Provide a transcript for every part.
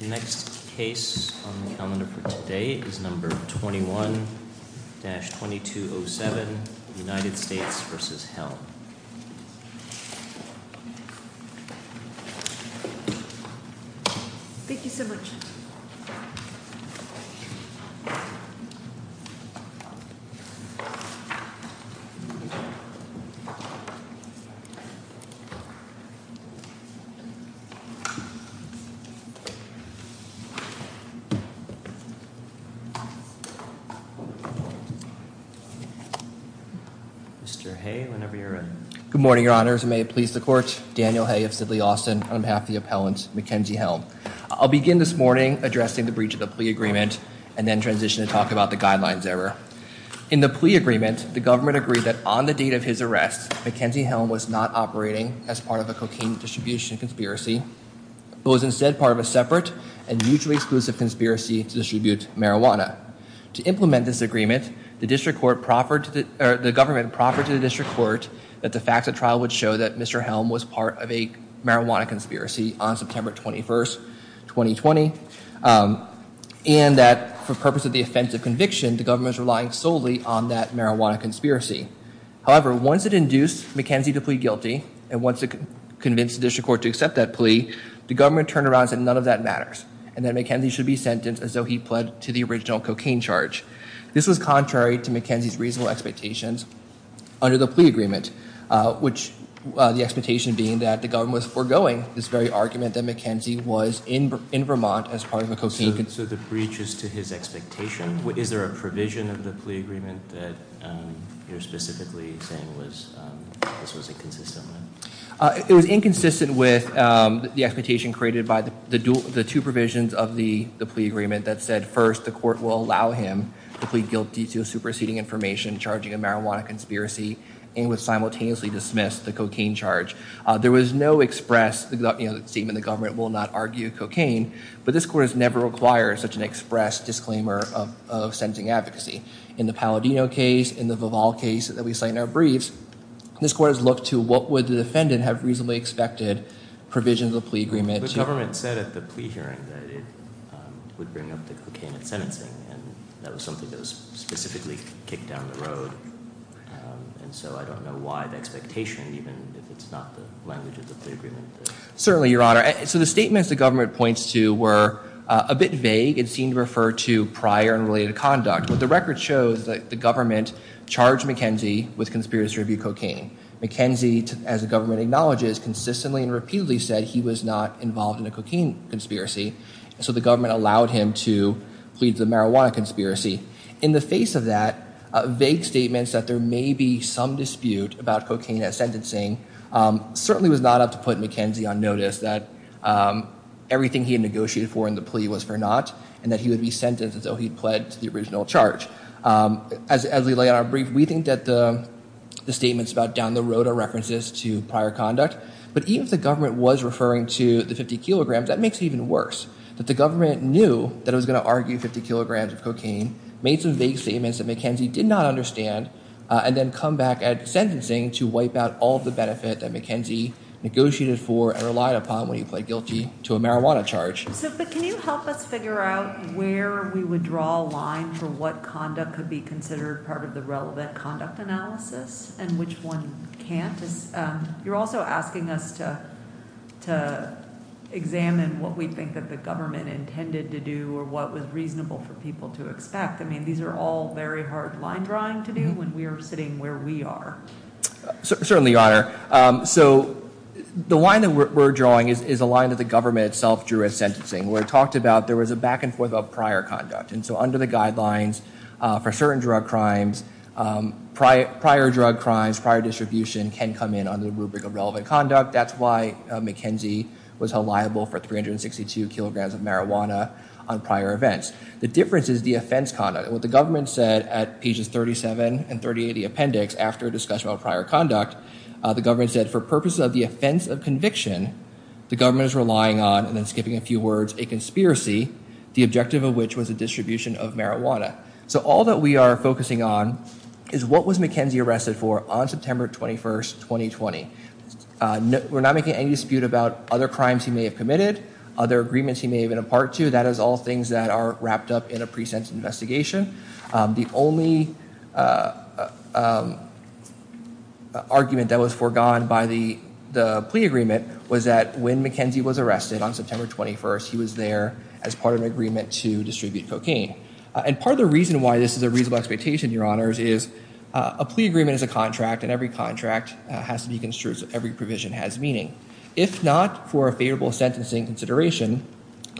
Next case on the calendar for today is number 21-2207 United States v. Helm Thank you so much Mr. Hay whenever you're ready Good morning your honors and may it please the court Daniel Hay of Sidley Austin on behalf of the appellant Mackenzie Helm I'll begin this morning addressing the breach of the plea agreement and then transition to talk about the guidelines error In the plea agreement the government agreed that on the date of his arrest Mackenzie Helm was not operating as part of a cocaine distribution conspiracy But was instead part of a separate and mutually exclusive conspiracy to distribute marijuana To implement this agreement the government proffered to the district court that the facts of trial would show that Mr. Helm was part of a marijuana conspiracy on September 21, 2020 And that for purpose of the offense of conviction the government is relying solely on that marijuana conspiracy However once it induced Mackenzie to plead guilty and once it convinced the district court to accept that plea The government turned around and said none of that matters and that Mackenzie should be sentenced as though he pled to the original cocaine charge This was contrary to Mackenzie's reasonable expectations under the plea agreement Which the expectation being that the government was foregoing this very argument that Mackenzie was in Vermont as part of a cocaine So the breach is to his expectation? Is there a provision of the plea agreement that you're specifically saying this was inconsistent with? It was inconsistent with the expectation created by the two provisions of the plea agreement that said first the court will allow him to plead guilty to superseding information Charging a marijuana conspiracy and would simultaneously dismiss the cocaine charge There was no express statement that the government will not argue cocaine but this court has never required such an express disclaimer of sentencing advocacy In the Palladino case, in the Vival case that we cite in our briefs, this court has looked to what would the defendant have reasonably expected provisions of the plea agreement The government said at the plea hearing that it would bring up the cocaine in sentencing and that was something that was specifically kicked down the road And so I don't know why the expectation even if it's not the language of the plea agreement Certainly, your honor. So the statements the government points to were a bit vague and seemed to refer to prior and related conduct But the record shows that the government charged Mackenzie with conspiracy to review cocaine Mackenzie, as the government acknowledges, consistently and repeatedly said he was not involved in a cocaine conspiracy So the government allowed him to plead the marijuana conspiracy In the face of that, vague statements that there may be some dispute about cocaine at sentencing Certainly was not up to put Mackenzie on notice that everything he had negotiated for in the plea was for naught And that he would be sentenced until he pled to the original charge As we lay out our brief, we think that the statements about down the road are references to prior conduct But even if the government was referring to the 50 kilograms, that makes it even worse That the government knew that it was going to argue 50 kilograms of cocaine Made some vague statements that Mackenzie did not understand And then come back at sentencing to wipe out all the benefit that Mackenzie negotiated for And relied upon when he pled guilty to a marijuana charge But can you help us figure out where we would draw a line for what conduct could be considered part of the relevant conduct analysis And which one can't You're also asking us to examine what we think that the government intended to do Or what was reasonable for people to expect I mean, these are all very hard line drawing to do when we are sitting where we are Certainly, Your Honor So the line that we're drawing is a line that the government itself drew at sentencing Where it talked about there was a back and forth of prior conduct And so under the guidelines for certain drug crimes Prior drug crimes, prior distribution can come in under the rubric of relevant conduct That's why Mackenzie was held liable for 362 kilograms of marijuana on prior events The difference is the offense conduct What the government said at pages 37 and 38 of the appendix after discussion of prior conduct The government said for purposes of the offense of conviction The government is relying on, and then skipping a few words, a conspiracy The objective of which was a distribution of marijuana So all that we are focusing on is what was Mackenzie arrested for on September 21st, 2020 We're not making any dispute about other crimes he may have committed Other agreements he may have been a part to That is all things that are wrapped up in a pre-sentence investigation The only argument that was foregone by the plea agreement Was that when Mackenzie was arrested on September 21st He was there as part of an agreement to distribute cocaine And part of the reason why this is a reasonable expectation, your honors Is a plea agreement is a contract And every contract has to be construed so every provision has meaning If not for a favorable sentencing consideration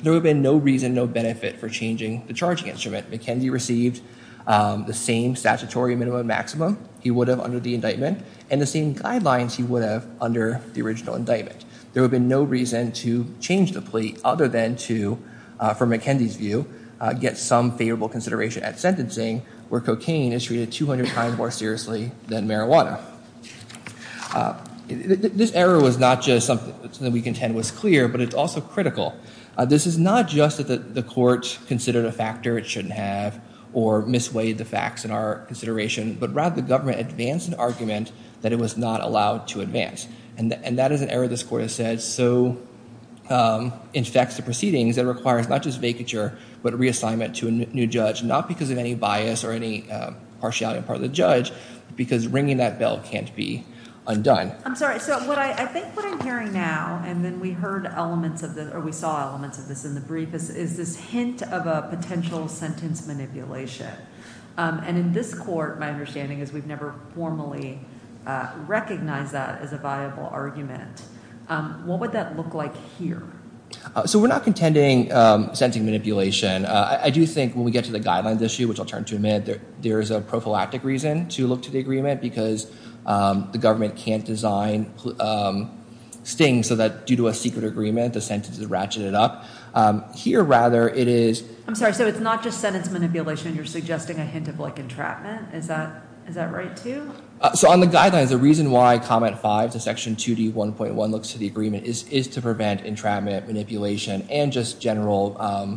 There would have been no reason, no benefit for changing the charging instrument Mackenzie received the same statutory minimum and maximum he would have under the indictment And the same guidelines he would have under the original indictment There would have been no reason to change the plea Other than to, from Mackenzie's view, get some favorable consideration at sentencing Where cocaine is treated 200 times more seriously than marijuana This error was not just something that we contend was clear But it's also critical This is not just that the court considered a factor it shouldn't have Or misweighed the facts in our consideration But rather the government advanced an argument that it was not allowed to advance And that is an error this court has said so It affects the proceedings that requires not just vacature But reassignment to a new judge Not because of any bias or any partiality on the part of the judge Because ringing that bell can't be undone I'm sorry, so I think what I'm hearing now And then we heard elements of this, or we saw elements of this in the brief Is this hint of a potential sentence manipulation And in this court, my understanding is we've never formally Recognized that as a viable argument What would that look like here? So we're not contending sentencing manipulation I do think when we get to the guidelines issue, which I'll turn to in a minute There is a prophylactic reason to look to the agreement Because the government can't design stings So that due to a secret agreement, the sentence is ratcheted up Here rather, it is I'm sorry, so it's not just sentence manipulation You're suggesting a hint of entrapment Is that right too? So on the guidelines, the reason why comment 5 to section 2D1.1 Looks to the agreement is to prevent entrapment, manipulation And just general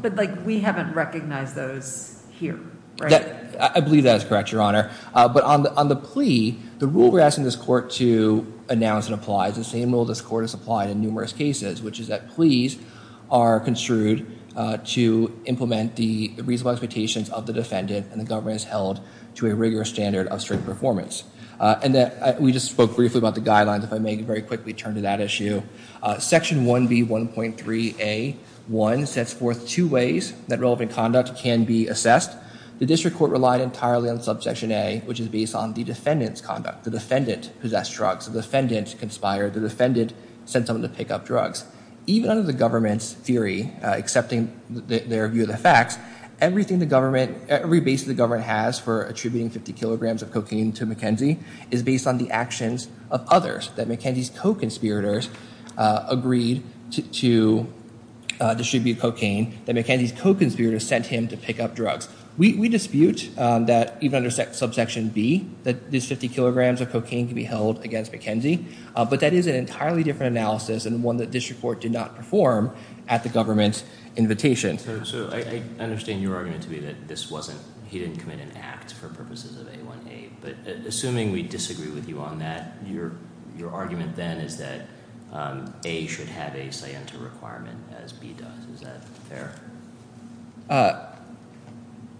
But we haven't recognized those here, right? I believe that is correct, your honor But on the plea, the rule we're asking this court to announce and apply Is the same rule this court has applied in numerous cases Which is that pleas are construed To implement the reasonable expectations of the defendant And the government is held to a rigorous standard of strict performance And we just spoke briefly about the guidelines If I may very quickly turn to that issue Section 1B1.3A1 sets forth two ways that relevant conduct can be assessed The district court relied entirely on subsection A Which is based on the defendant's conduct The defendant possessed drugs, the defendant conspired The defendant sent someone to pick up drugs Even under the government's theory, accepting their view of the facts Everything the government, every base the government has For attributing 50 kilograms of cocaine to McKenzie Is based on the actions of others That McKenzie's co-conspirators agreed to distribute cocaine That McKenzie's co-conspirators sent him to pick up drugs We dispute that even under subsection B That this 50 kilograms of cocaine can be held against McKenzie But that is an entirely different analysis And one that district court did not perform at the government's invitation So I understand your argument to be that this wasn't He didn't commit an act for purposes of A1A But assuming we disagree with you on that Your argument then is that A should have a scienter requirement As B does, is that fair?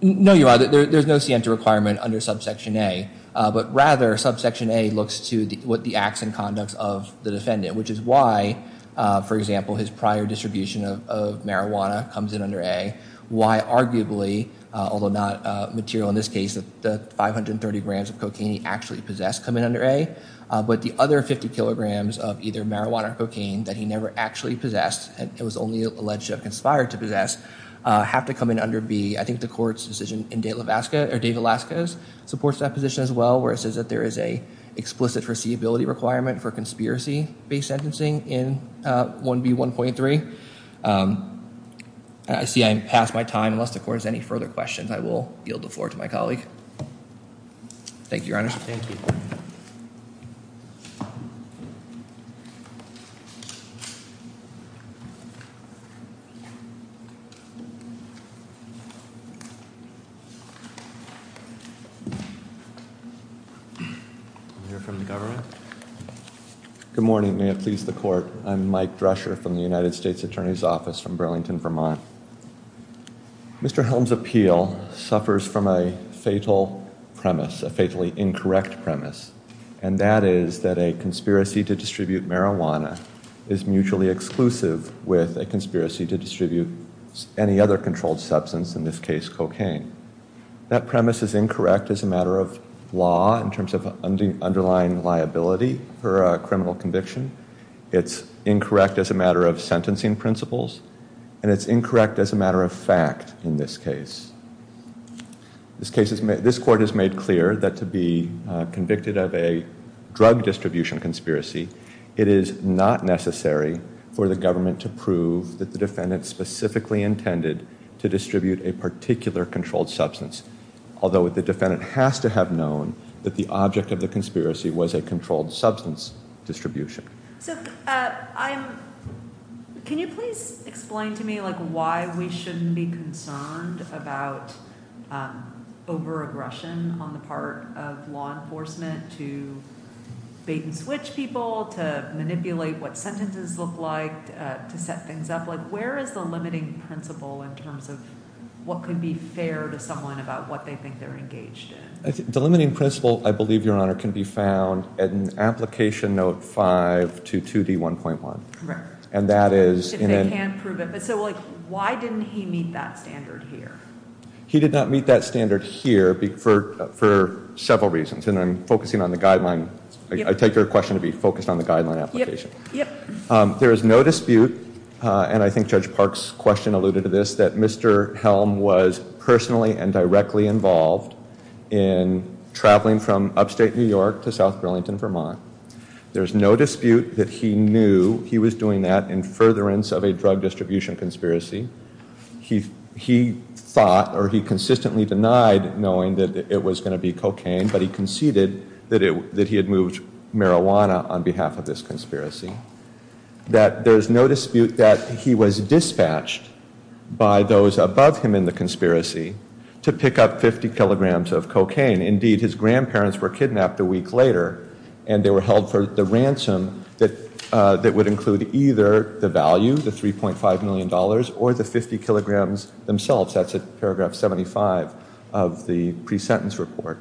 No, there's no scienter requirement under subsection A But rather subsection A looks to what the acts and conducts of the defendant Which is why, for example, his prior distribution of marijuana Comes in under A Why arguably, although not material in this case That the 530 grams of cocaine he actually possessed come in under A But the other 50 kilograms of either marijuana or cocaine That he never actually possessed And it was only alleged to have conspired to possess Have to come in under B I think the court's decision in Dave Velasquez Supports that position as well Where it says that there is an explicit foreseeability requirement For conspiracy-based sentencing in 1B1.3 I see I've passed my time Unless the court has any further questions I will yield the floor to my colleague Thank you, Your Honor Thank you We'll hear from the government Good morning, may it please the court I'm Mike Drescher from the United States Attorney's Office From Burlington, Vermont Mr. Helms' appeal suffers from a fatal premise A fatally incorrect premise And that is that a conspiracy to distribute marijuana Is mutually exclusive with a conspiracy to distribute Any other controlled substance, in this case cocaine That premise is incorrect as a matter of law In terms of underlying liability for a criminal conviction It's incorrect as a matter of sentencing principles And it's incorrect as a matter of fact in this case This court has made clear that to be convicted of a Drug distribution conspiracy It is not necessary for the government to prove That the defendant specifically intended To distribute a particular controlled substance Although the defendant has to have known That the object of the conspiracy Was a controlled substance distribution So I'm, can you please explain to me Like why we shouldn't be concerned About over-aggression on the part of law enforcement To bait and switch people To manipulate what sentences look like To set things up Like where is the limiting principle In terms of what could be fair to someone About what they think they're engaged in The limiting principle, I believe, Your Honor Can be found in Application Note 522D1.1 Correct And that is If they can prove it But so like why didn't he meet that standard here He did not meet that standard here For several reasons And I'm focusing on the guideline I take your question to be focused on the guideline application Yep, yep There is no dispute And I think Judge Park's question alluded to this That Mr. Helm was personally and directly involved In traveling from upstate New York To South Burlington, Vermont There's no dispute that he knew He was doing that in furtherance Of a drug distribution conspiracy He thought, or he consistently denied Knowing that it was going to be cocaine But he conceded that he had moved marijuana On behalf of this conspiracy That there's no dispute that he was dispatched By those above him in the conspiracy To pick up 50 kilograms of cocaine Indeed, his grandparents were kidnapped a week later And they were held for the ransom That would include either the value The $3.5 million Or the 50 kilograms themselves That's at paragraph 75 of the pre-sentence report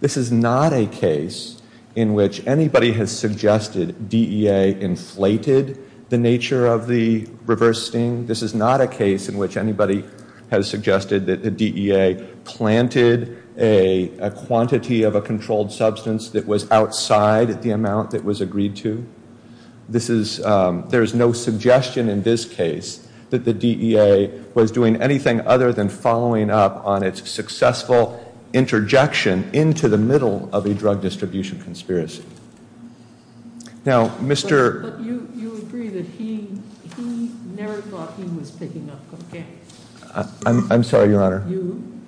This is not a case In which anybody has suggested DEA inflated the nature of the reverse sting This is not a case in which anybody Has suggested that the DEA Planted a quantity of a controlled substance That was outside the amount that was agreed to There's no suggestion in this case That the DEA was doing anything Other than following up on its successful Interjection into the middle Of a drug distribution conspiracy Now, Mr. But you agree that he Never thought he was picking up cocaine I'm sorry, your honor You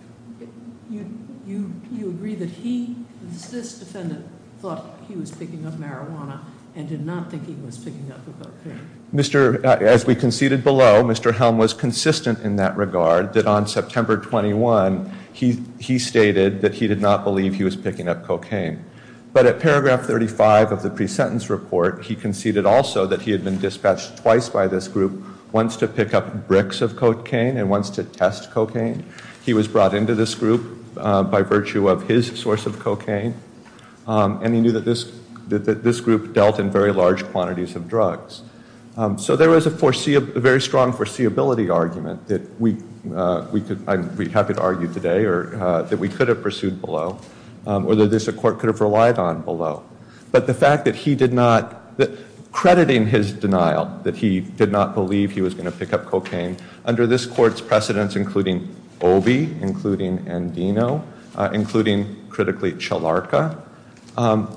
agree that he This defendant thought he was picking up marijuana And did not think he was picking up cocaine As we conceded below Mr. Helm was consistent in that regard That on September 21 He stated that he did not believe He was picking up cocaine But at paragraph 35 of the pre-sentence report He conceded also that he had been dispatched Twice by this group Once to pick up bricks of cocaine And once to test cocaine He was brought into this group By virtue of his source of cocaine And he knew that this group Dealt in very large quantities of drugs So there was a very strong foreseeability argument That we could I'm happy to argue today That we could have pursued below Or that this court could have relied on below But the fact that he did not Crediting his denial That he did not believe he was going to pick up cocaine Under this court's precedence Including Obie Including Andino Including, critically, Chilarka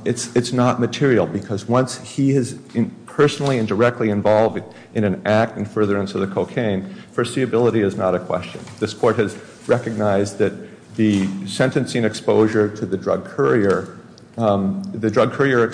It's not material Because once he is personally and directly involved In an act in furtherance of the cocaine Foreseeability is not a question This court has recognized that The sentencing exposure to the drug courier The drug courier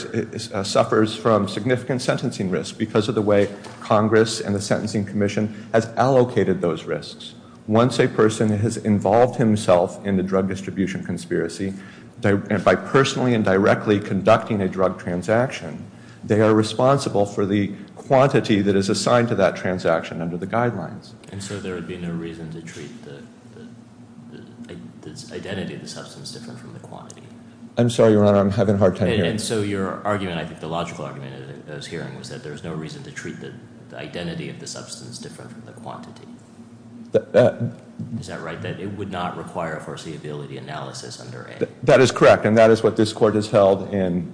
suffers from significant sentencing risk Because of the way Congress and the Sentencing Commission Has allocated those risks Once a person has involved himself In the drug distribution conspiracy By personally and directly conducting a drug transaction They are responsible for the quantity That is assigned to that transaction And so there would be no reason to treat The identity of the substance Different from the quantity I'm sorry, your honor, I'm having a hard time hearing And so your argument, I think the logical argument That I was hearing was that there was no reason To treat the identity of the substance Different from the quantity Is that right? That it would not require a foreseeability analysis under A That is correct And that is what this court has held In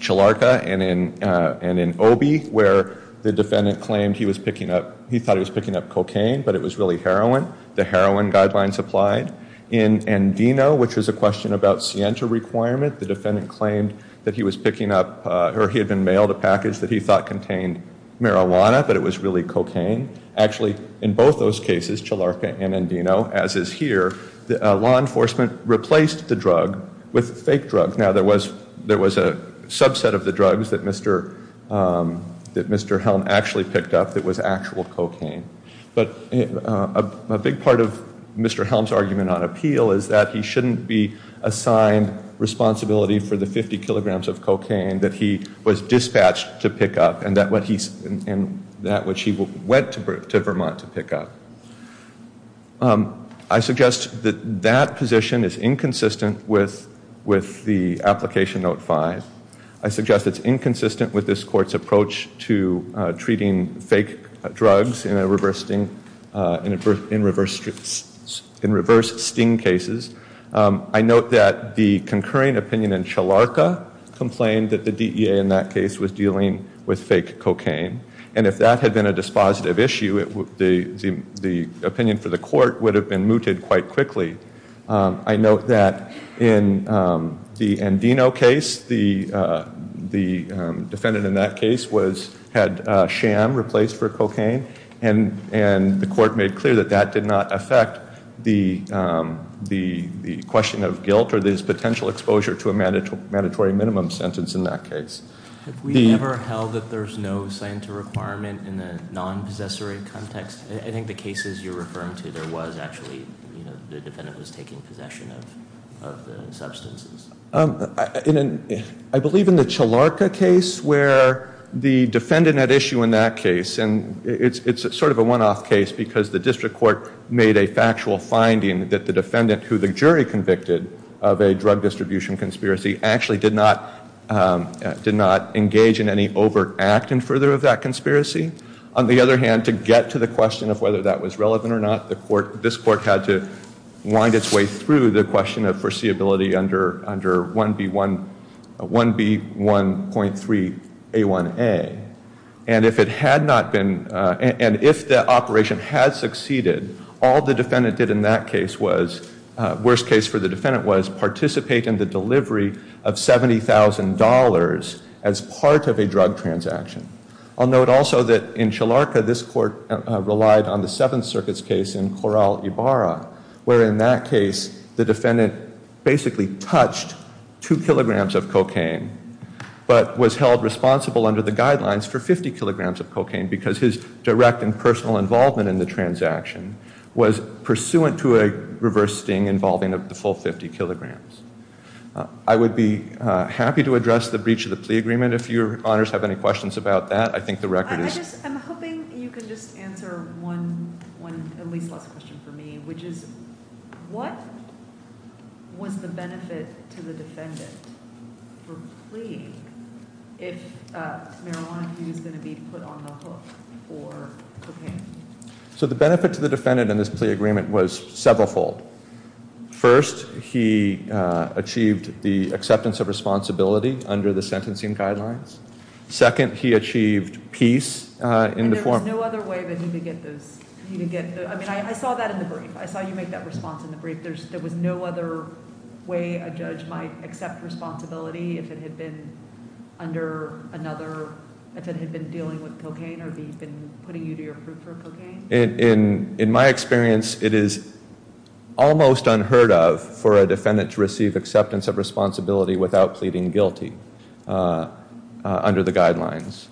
Chilarka and in Obie Where the defendant claimed he was picking up He thought he was picking up cocaine But it was really heroin The heroin guidelines applied In Andino, which was a question about Sienta requirement The defendant claimed that he was picking up Or he had been mailed a package That he thought contained marijuana But it was really cocaine Actually, in both those cases Chilarka and Andino, as is here The law enforcement replaced the drug With fake drugs Now there was a subset of the drugs That Mr. Helm actually picked up That was actual cocaine But a big part of Mr. Helm's argument on appeal Is that he shouldn't be assigned responsibility For the 50 kilograms of cocaine That he was dispatched to pick up And that which he went to Vermont to pick up I suggest that that position is inconsistent With the application note 5 I suggest it's inconsistent with this court's approach To treating fake drugs in reverse sting cases I note that the concurring opinion in Chilarka Complained that the DEA in that case Was dealing with fake cocaine And if that had been a dispositive issue The opinion for the court Would have been mooted quite quickly I note that in the Andino case The defendant in that case Had sham replaced for cocaine And the court made clear That that did not affect the question of guilt Or his potential exposure To a mandatory minimum sentence in that case Have we ever held that there's no scientific requirement In the non-possessory context? I think the cases you're referring to There was actually The defendant was taking possession of the substances I believe in the Chilarka case Where the defendant had issue in that case And it's sort of a one-off case Because the district court made a factual finding That the defendant who the jury convicted Of a drug distribution conspiracy Actually did not engage in any overt act In further of that conspiracy On the other hand To get to the question of whether that was relevant or not This court had to wind its way through The question of foreseeability under 1B1.3A1A And if it had not been And if the operation had succeeded All the defendant did in that case was Worst case for the defendant was Participate in the delivery of $70,000 As part of a drug transaction I'll note also that in Chilarka This court relied on the Seventh Circuit's case In Corral Ibarra Where in that case The defendant basically touched Two kilograms of cocaine But was held responsible under the guidelines For 50 kilograms of cocaine Because his direct and personal involvement In the transaction Was pursuant to a reverse sting Involving the full 50 kilograms I would be happy to address The breach of the plea agreement If your honors have any questions about that I think the record is I'm hoping you can just answer One at least last question for me Which is what was the benefit To the defendant for plea If marijuana abuse is going to be Put on the hook for cocaine So the benefit to the defendant In this plea agreement was several fold First he achieved the acceptance of responsibility Under the sentencing guidelines Second he achieved peace in the form And there was no other way That he could get those I mean I saw that in the brief I saw you make that response in the brief There was no other way A judge might accept responsibility If it had been under another If it had been dealing with cocaine Or if he had been putting you To your proof for cocaine In my experience It is almost unheard of For a defendant to receive Acceptance of responsibility Without pleading guilty Under the guidelines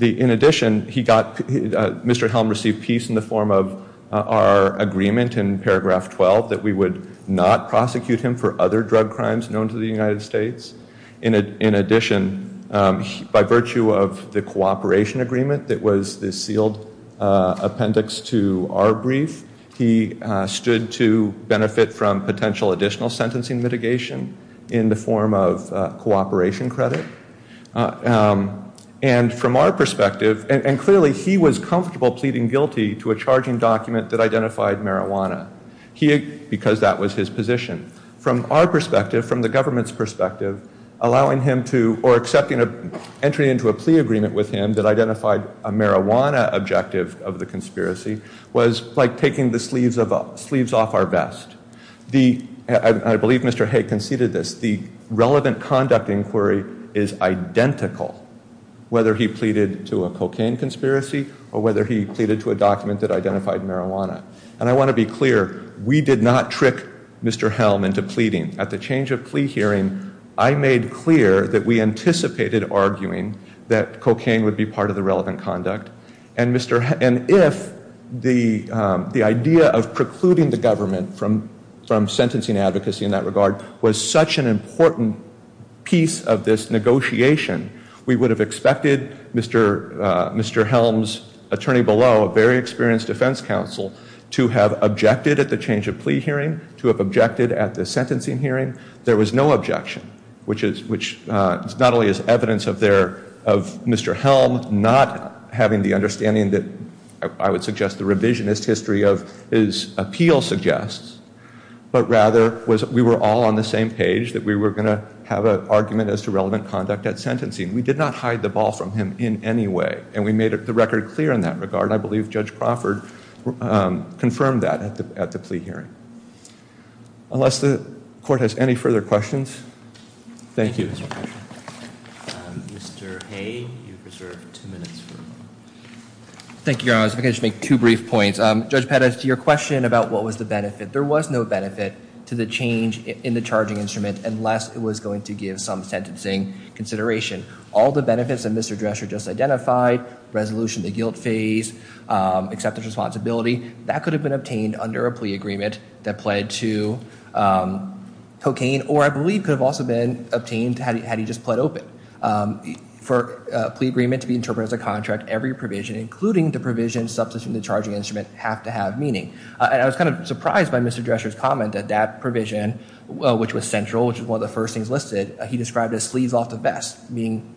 In addition he got Mr. Helm received peace In the form of our agreement In paragraph 12 That we would not prosecute him For other drug crimes Known to the United States In addition by virtue of The cooperation agreement That was the sealed appendix To our brief He stood to benefit From potential additional Sentencing mitigation In the form of cooperation credit And from our perspective And clearly he was comfortable Pleading guilty to a charging document That identified marijuana Because that was his position From our perspective From the government's perspective Allowing him to Or accepting entry Into a plea agreement with him That identified a marijuana objective Of the conspiracy Was like taking the sleeves Off our vest I believe Mr. Hay conceded this The relevant conduct inquiry Is identical Whether he pleaded To a cocaine conspiracy Or whether he pleaded to a document That identified marijuana And I want to be clear We did not trick Mr. Helm Into pleading At the change of plea hearing I made clear That we anticipated arguing That cocaine would be part Of the relevant conduct And if the idea Of precluding the government From sentencing advocacy In that regard Was such an important Piece of this negotiation We would have expected Mr. Helm's attorney below A very experienced defense counsel To have objected At the change of plea hearing To have objected At the sentencing hearing There was no objection Which not only is evidence Of Mr. Helm Not having the understanding That I would suggest The revisionist history Of his appeal suggests But rather We were all on the same page That we were going to Have an argument As to relevant conduct At sentencing We did not hide the ball From him in any way And we made the record Clear in that regard I believe Judge Crawford Confirmed that At the plea hearing Unless the court Has any further questions Thank you Mr. Hay You have two minutes Thank you I was going to make Two brief points Judge Pettis To your question About what was the benefit There was no benefit To the change In the charging instrument Unless it was going to Give some sentencing Consideration All the benefits That Mr. Drescher Just identified Resolution the guilt phase Acceptance of responsibility That could have been Obtained under a plea agreement That pled to cocaine Or I believe Could have also been Obtained had he just Pled open For a plea agreement To be interpreted As a contract Every provision Including the provision Substituting the charging instrument Have to have meaning And I was kind of surprised By Mr. Drescher's comment That that provision Which was central Which was one of the First things listed He described as Sleeves off the vest Meaning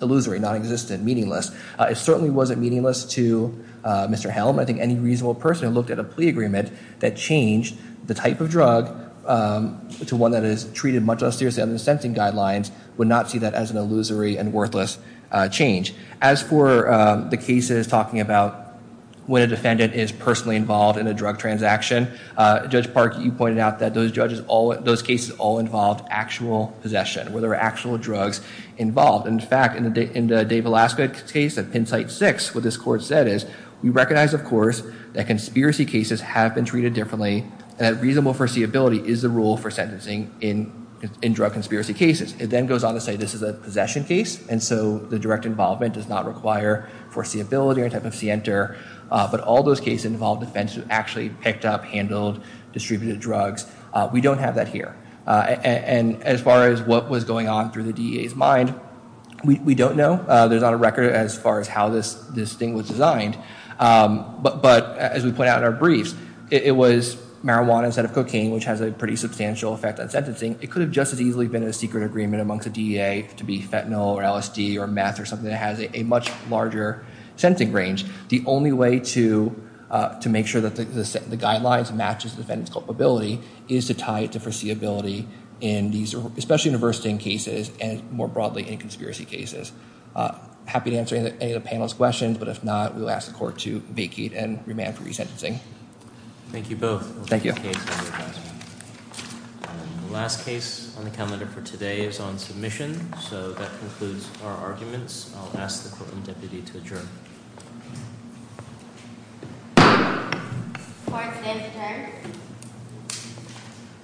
illusory Non-existent Meaningless It certainly wasn't Meaningless to Mr. Helm I think any reasonable person Who looked at a plea agreement That changed The type of drug To one that is Treated much less seriously Under the sentencing guidelines Would not see that As an illusory And worthless change As for The cases Talking about When a defendant Is personally involved In a drug transaction Judge Park You pointed out That those judges Those cases All involved Actual possession Where there are Actual drugs Involved And in fact In the Dave Velasquez case At Penn site 6 What this court said is We recognize of course That conspiracy cases Have been treated differently And that reasonable foreseeability Is the rule For sentencing In drug conspiracy cases It then goes on to say This is a possession case And so The direct involvement Does not require Foreseeability Or type of center But all those cases Involve defense Who actually Picked up Handled Distributed drugs We don't have that here And as far as What was going on Through the DEA's mind We don't know There's not a record As far as how This thing was designed But as we point out In our briefs It was marijuana Instead of cocaine Which has a pretty Substantial effect On sentencing It could have Just as easily Been a secret agreement Amongst the DEA To be fentanyl Or LSD Or meth Or something that has A much larger Sentencing range The only way To make sure That the guidelines Match the defendant's Culpability Is to tie it To foreseeability In these Especially in diversity In cases And more broadly In conspiracy cases Happy to answer Any of the panel's Questions But if not We'll ask the court To vacate And remand for resentencing Thank you both Thank you The last case On the calendar For today Is on submission So that concludes Our arguments I'll ask the court And deputy To adjourn Court is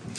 adjourned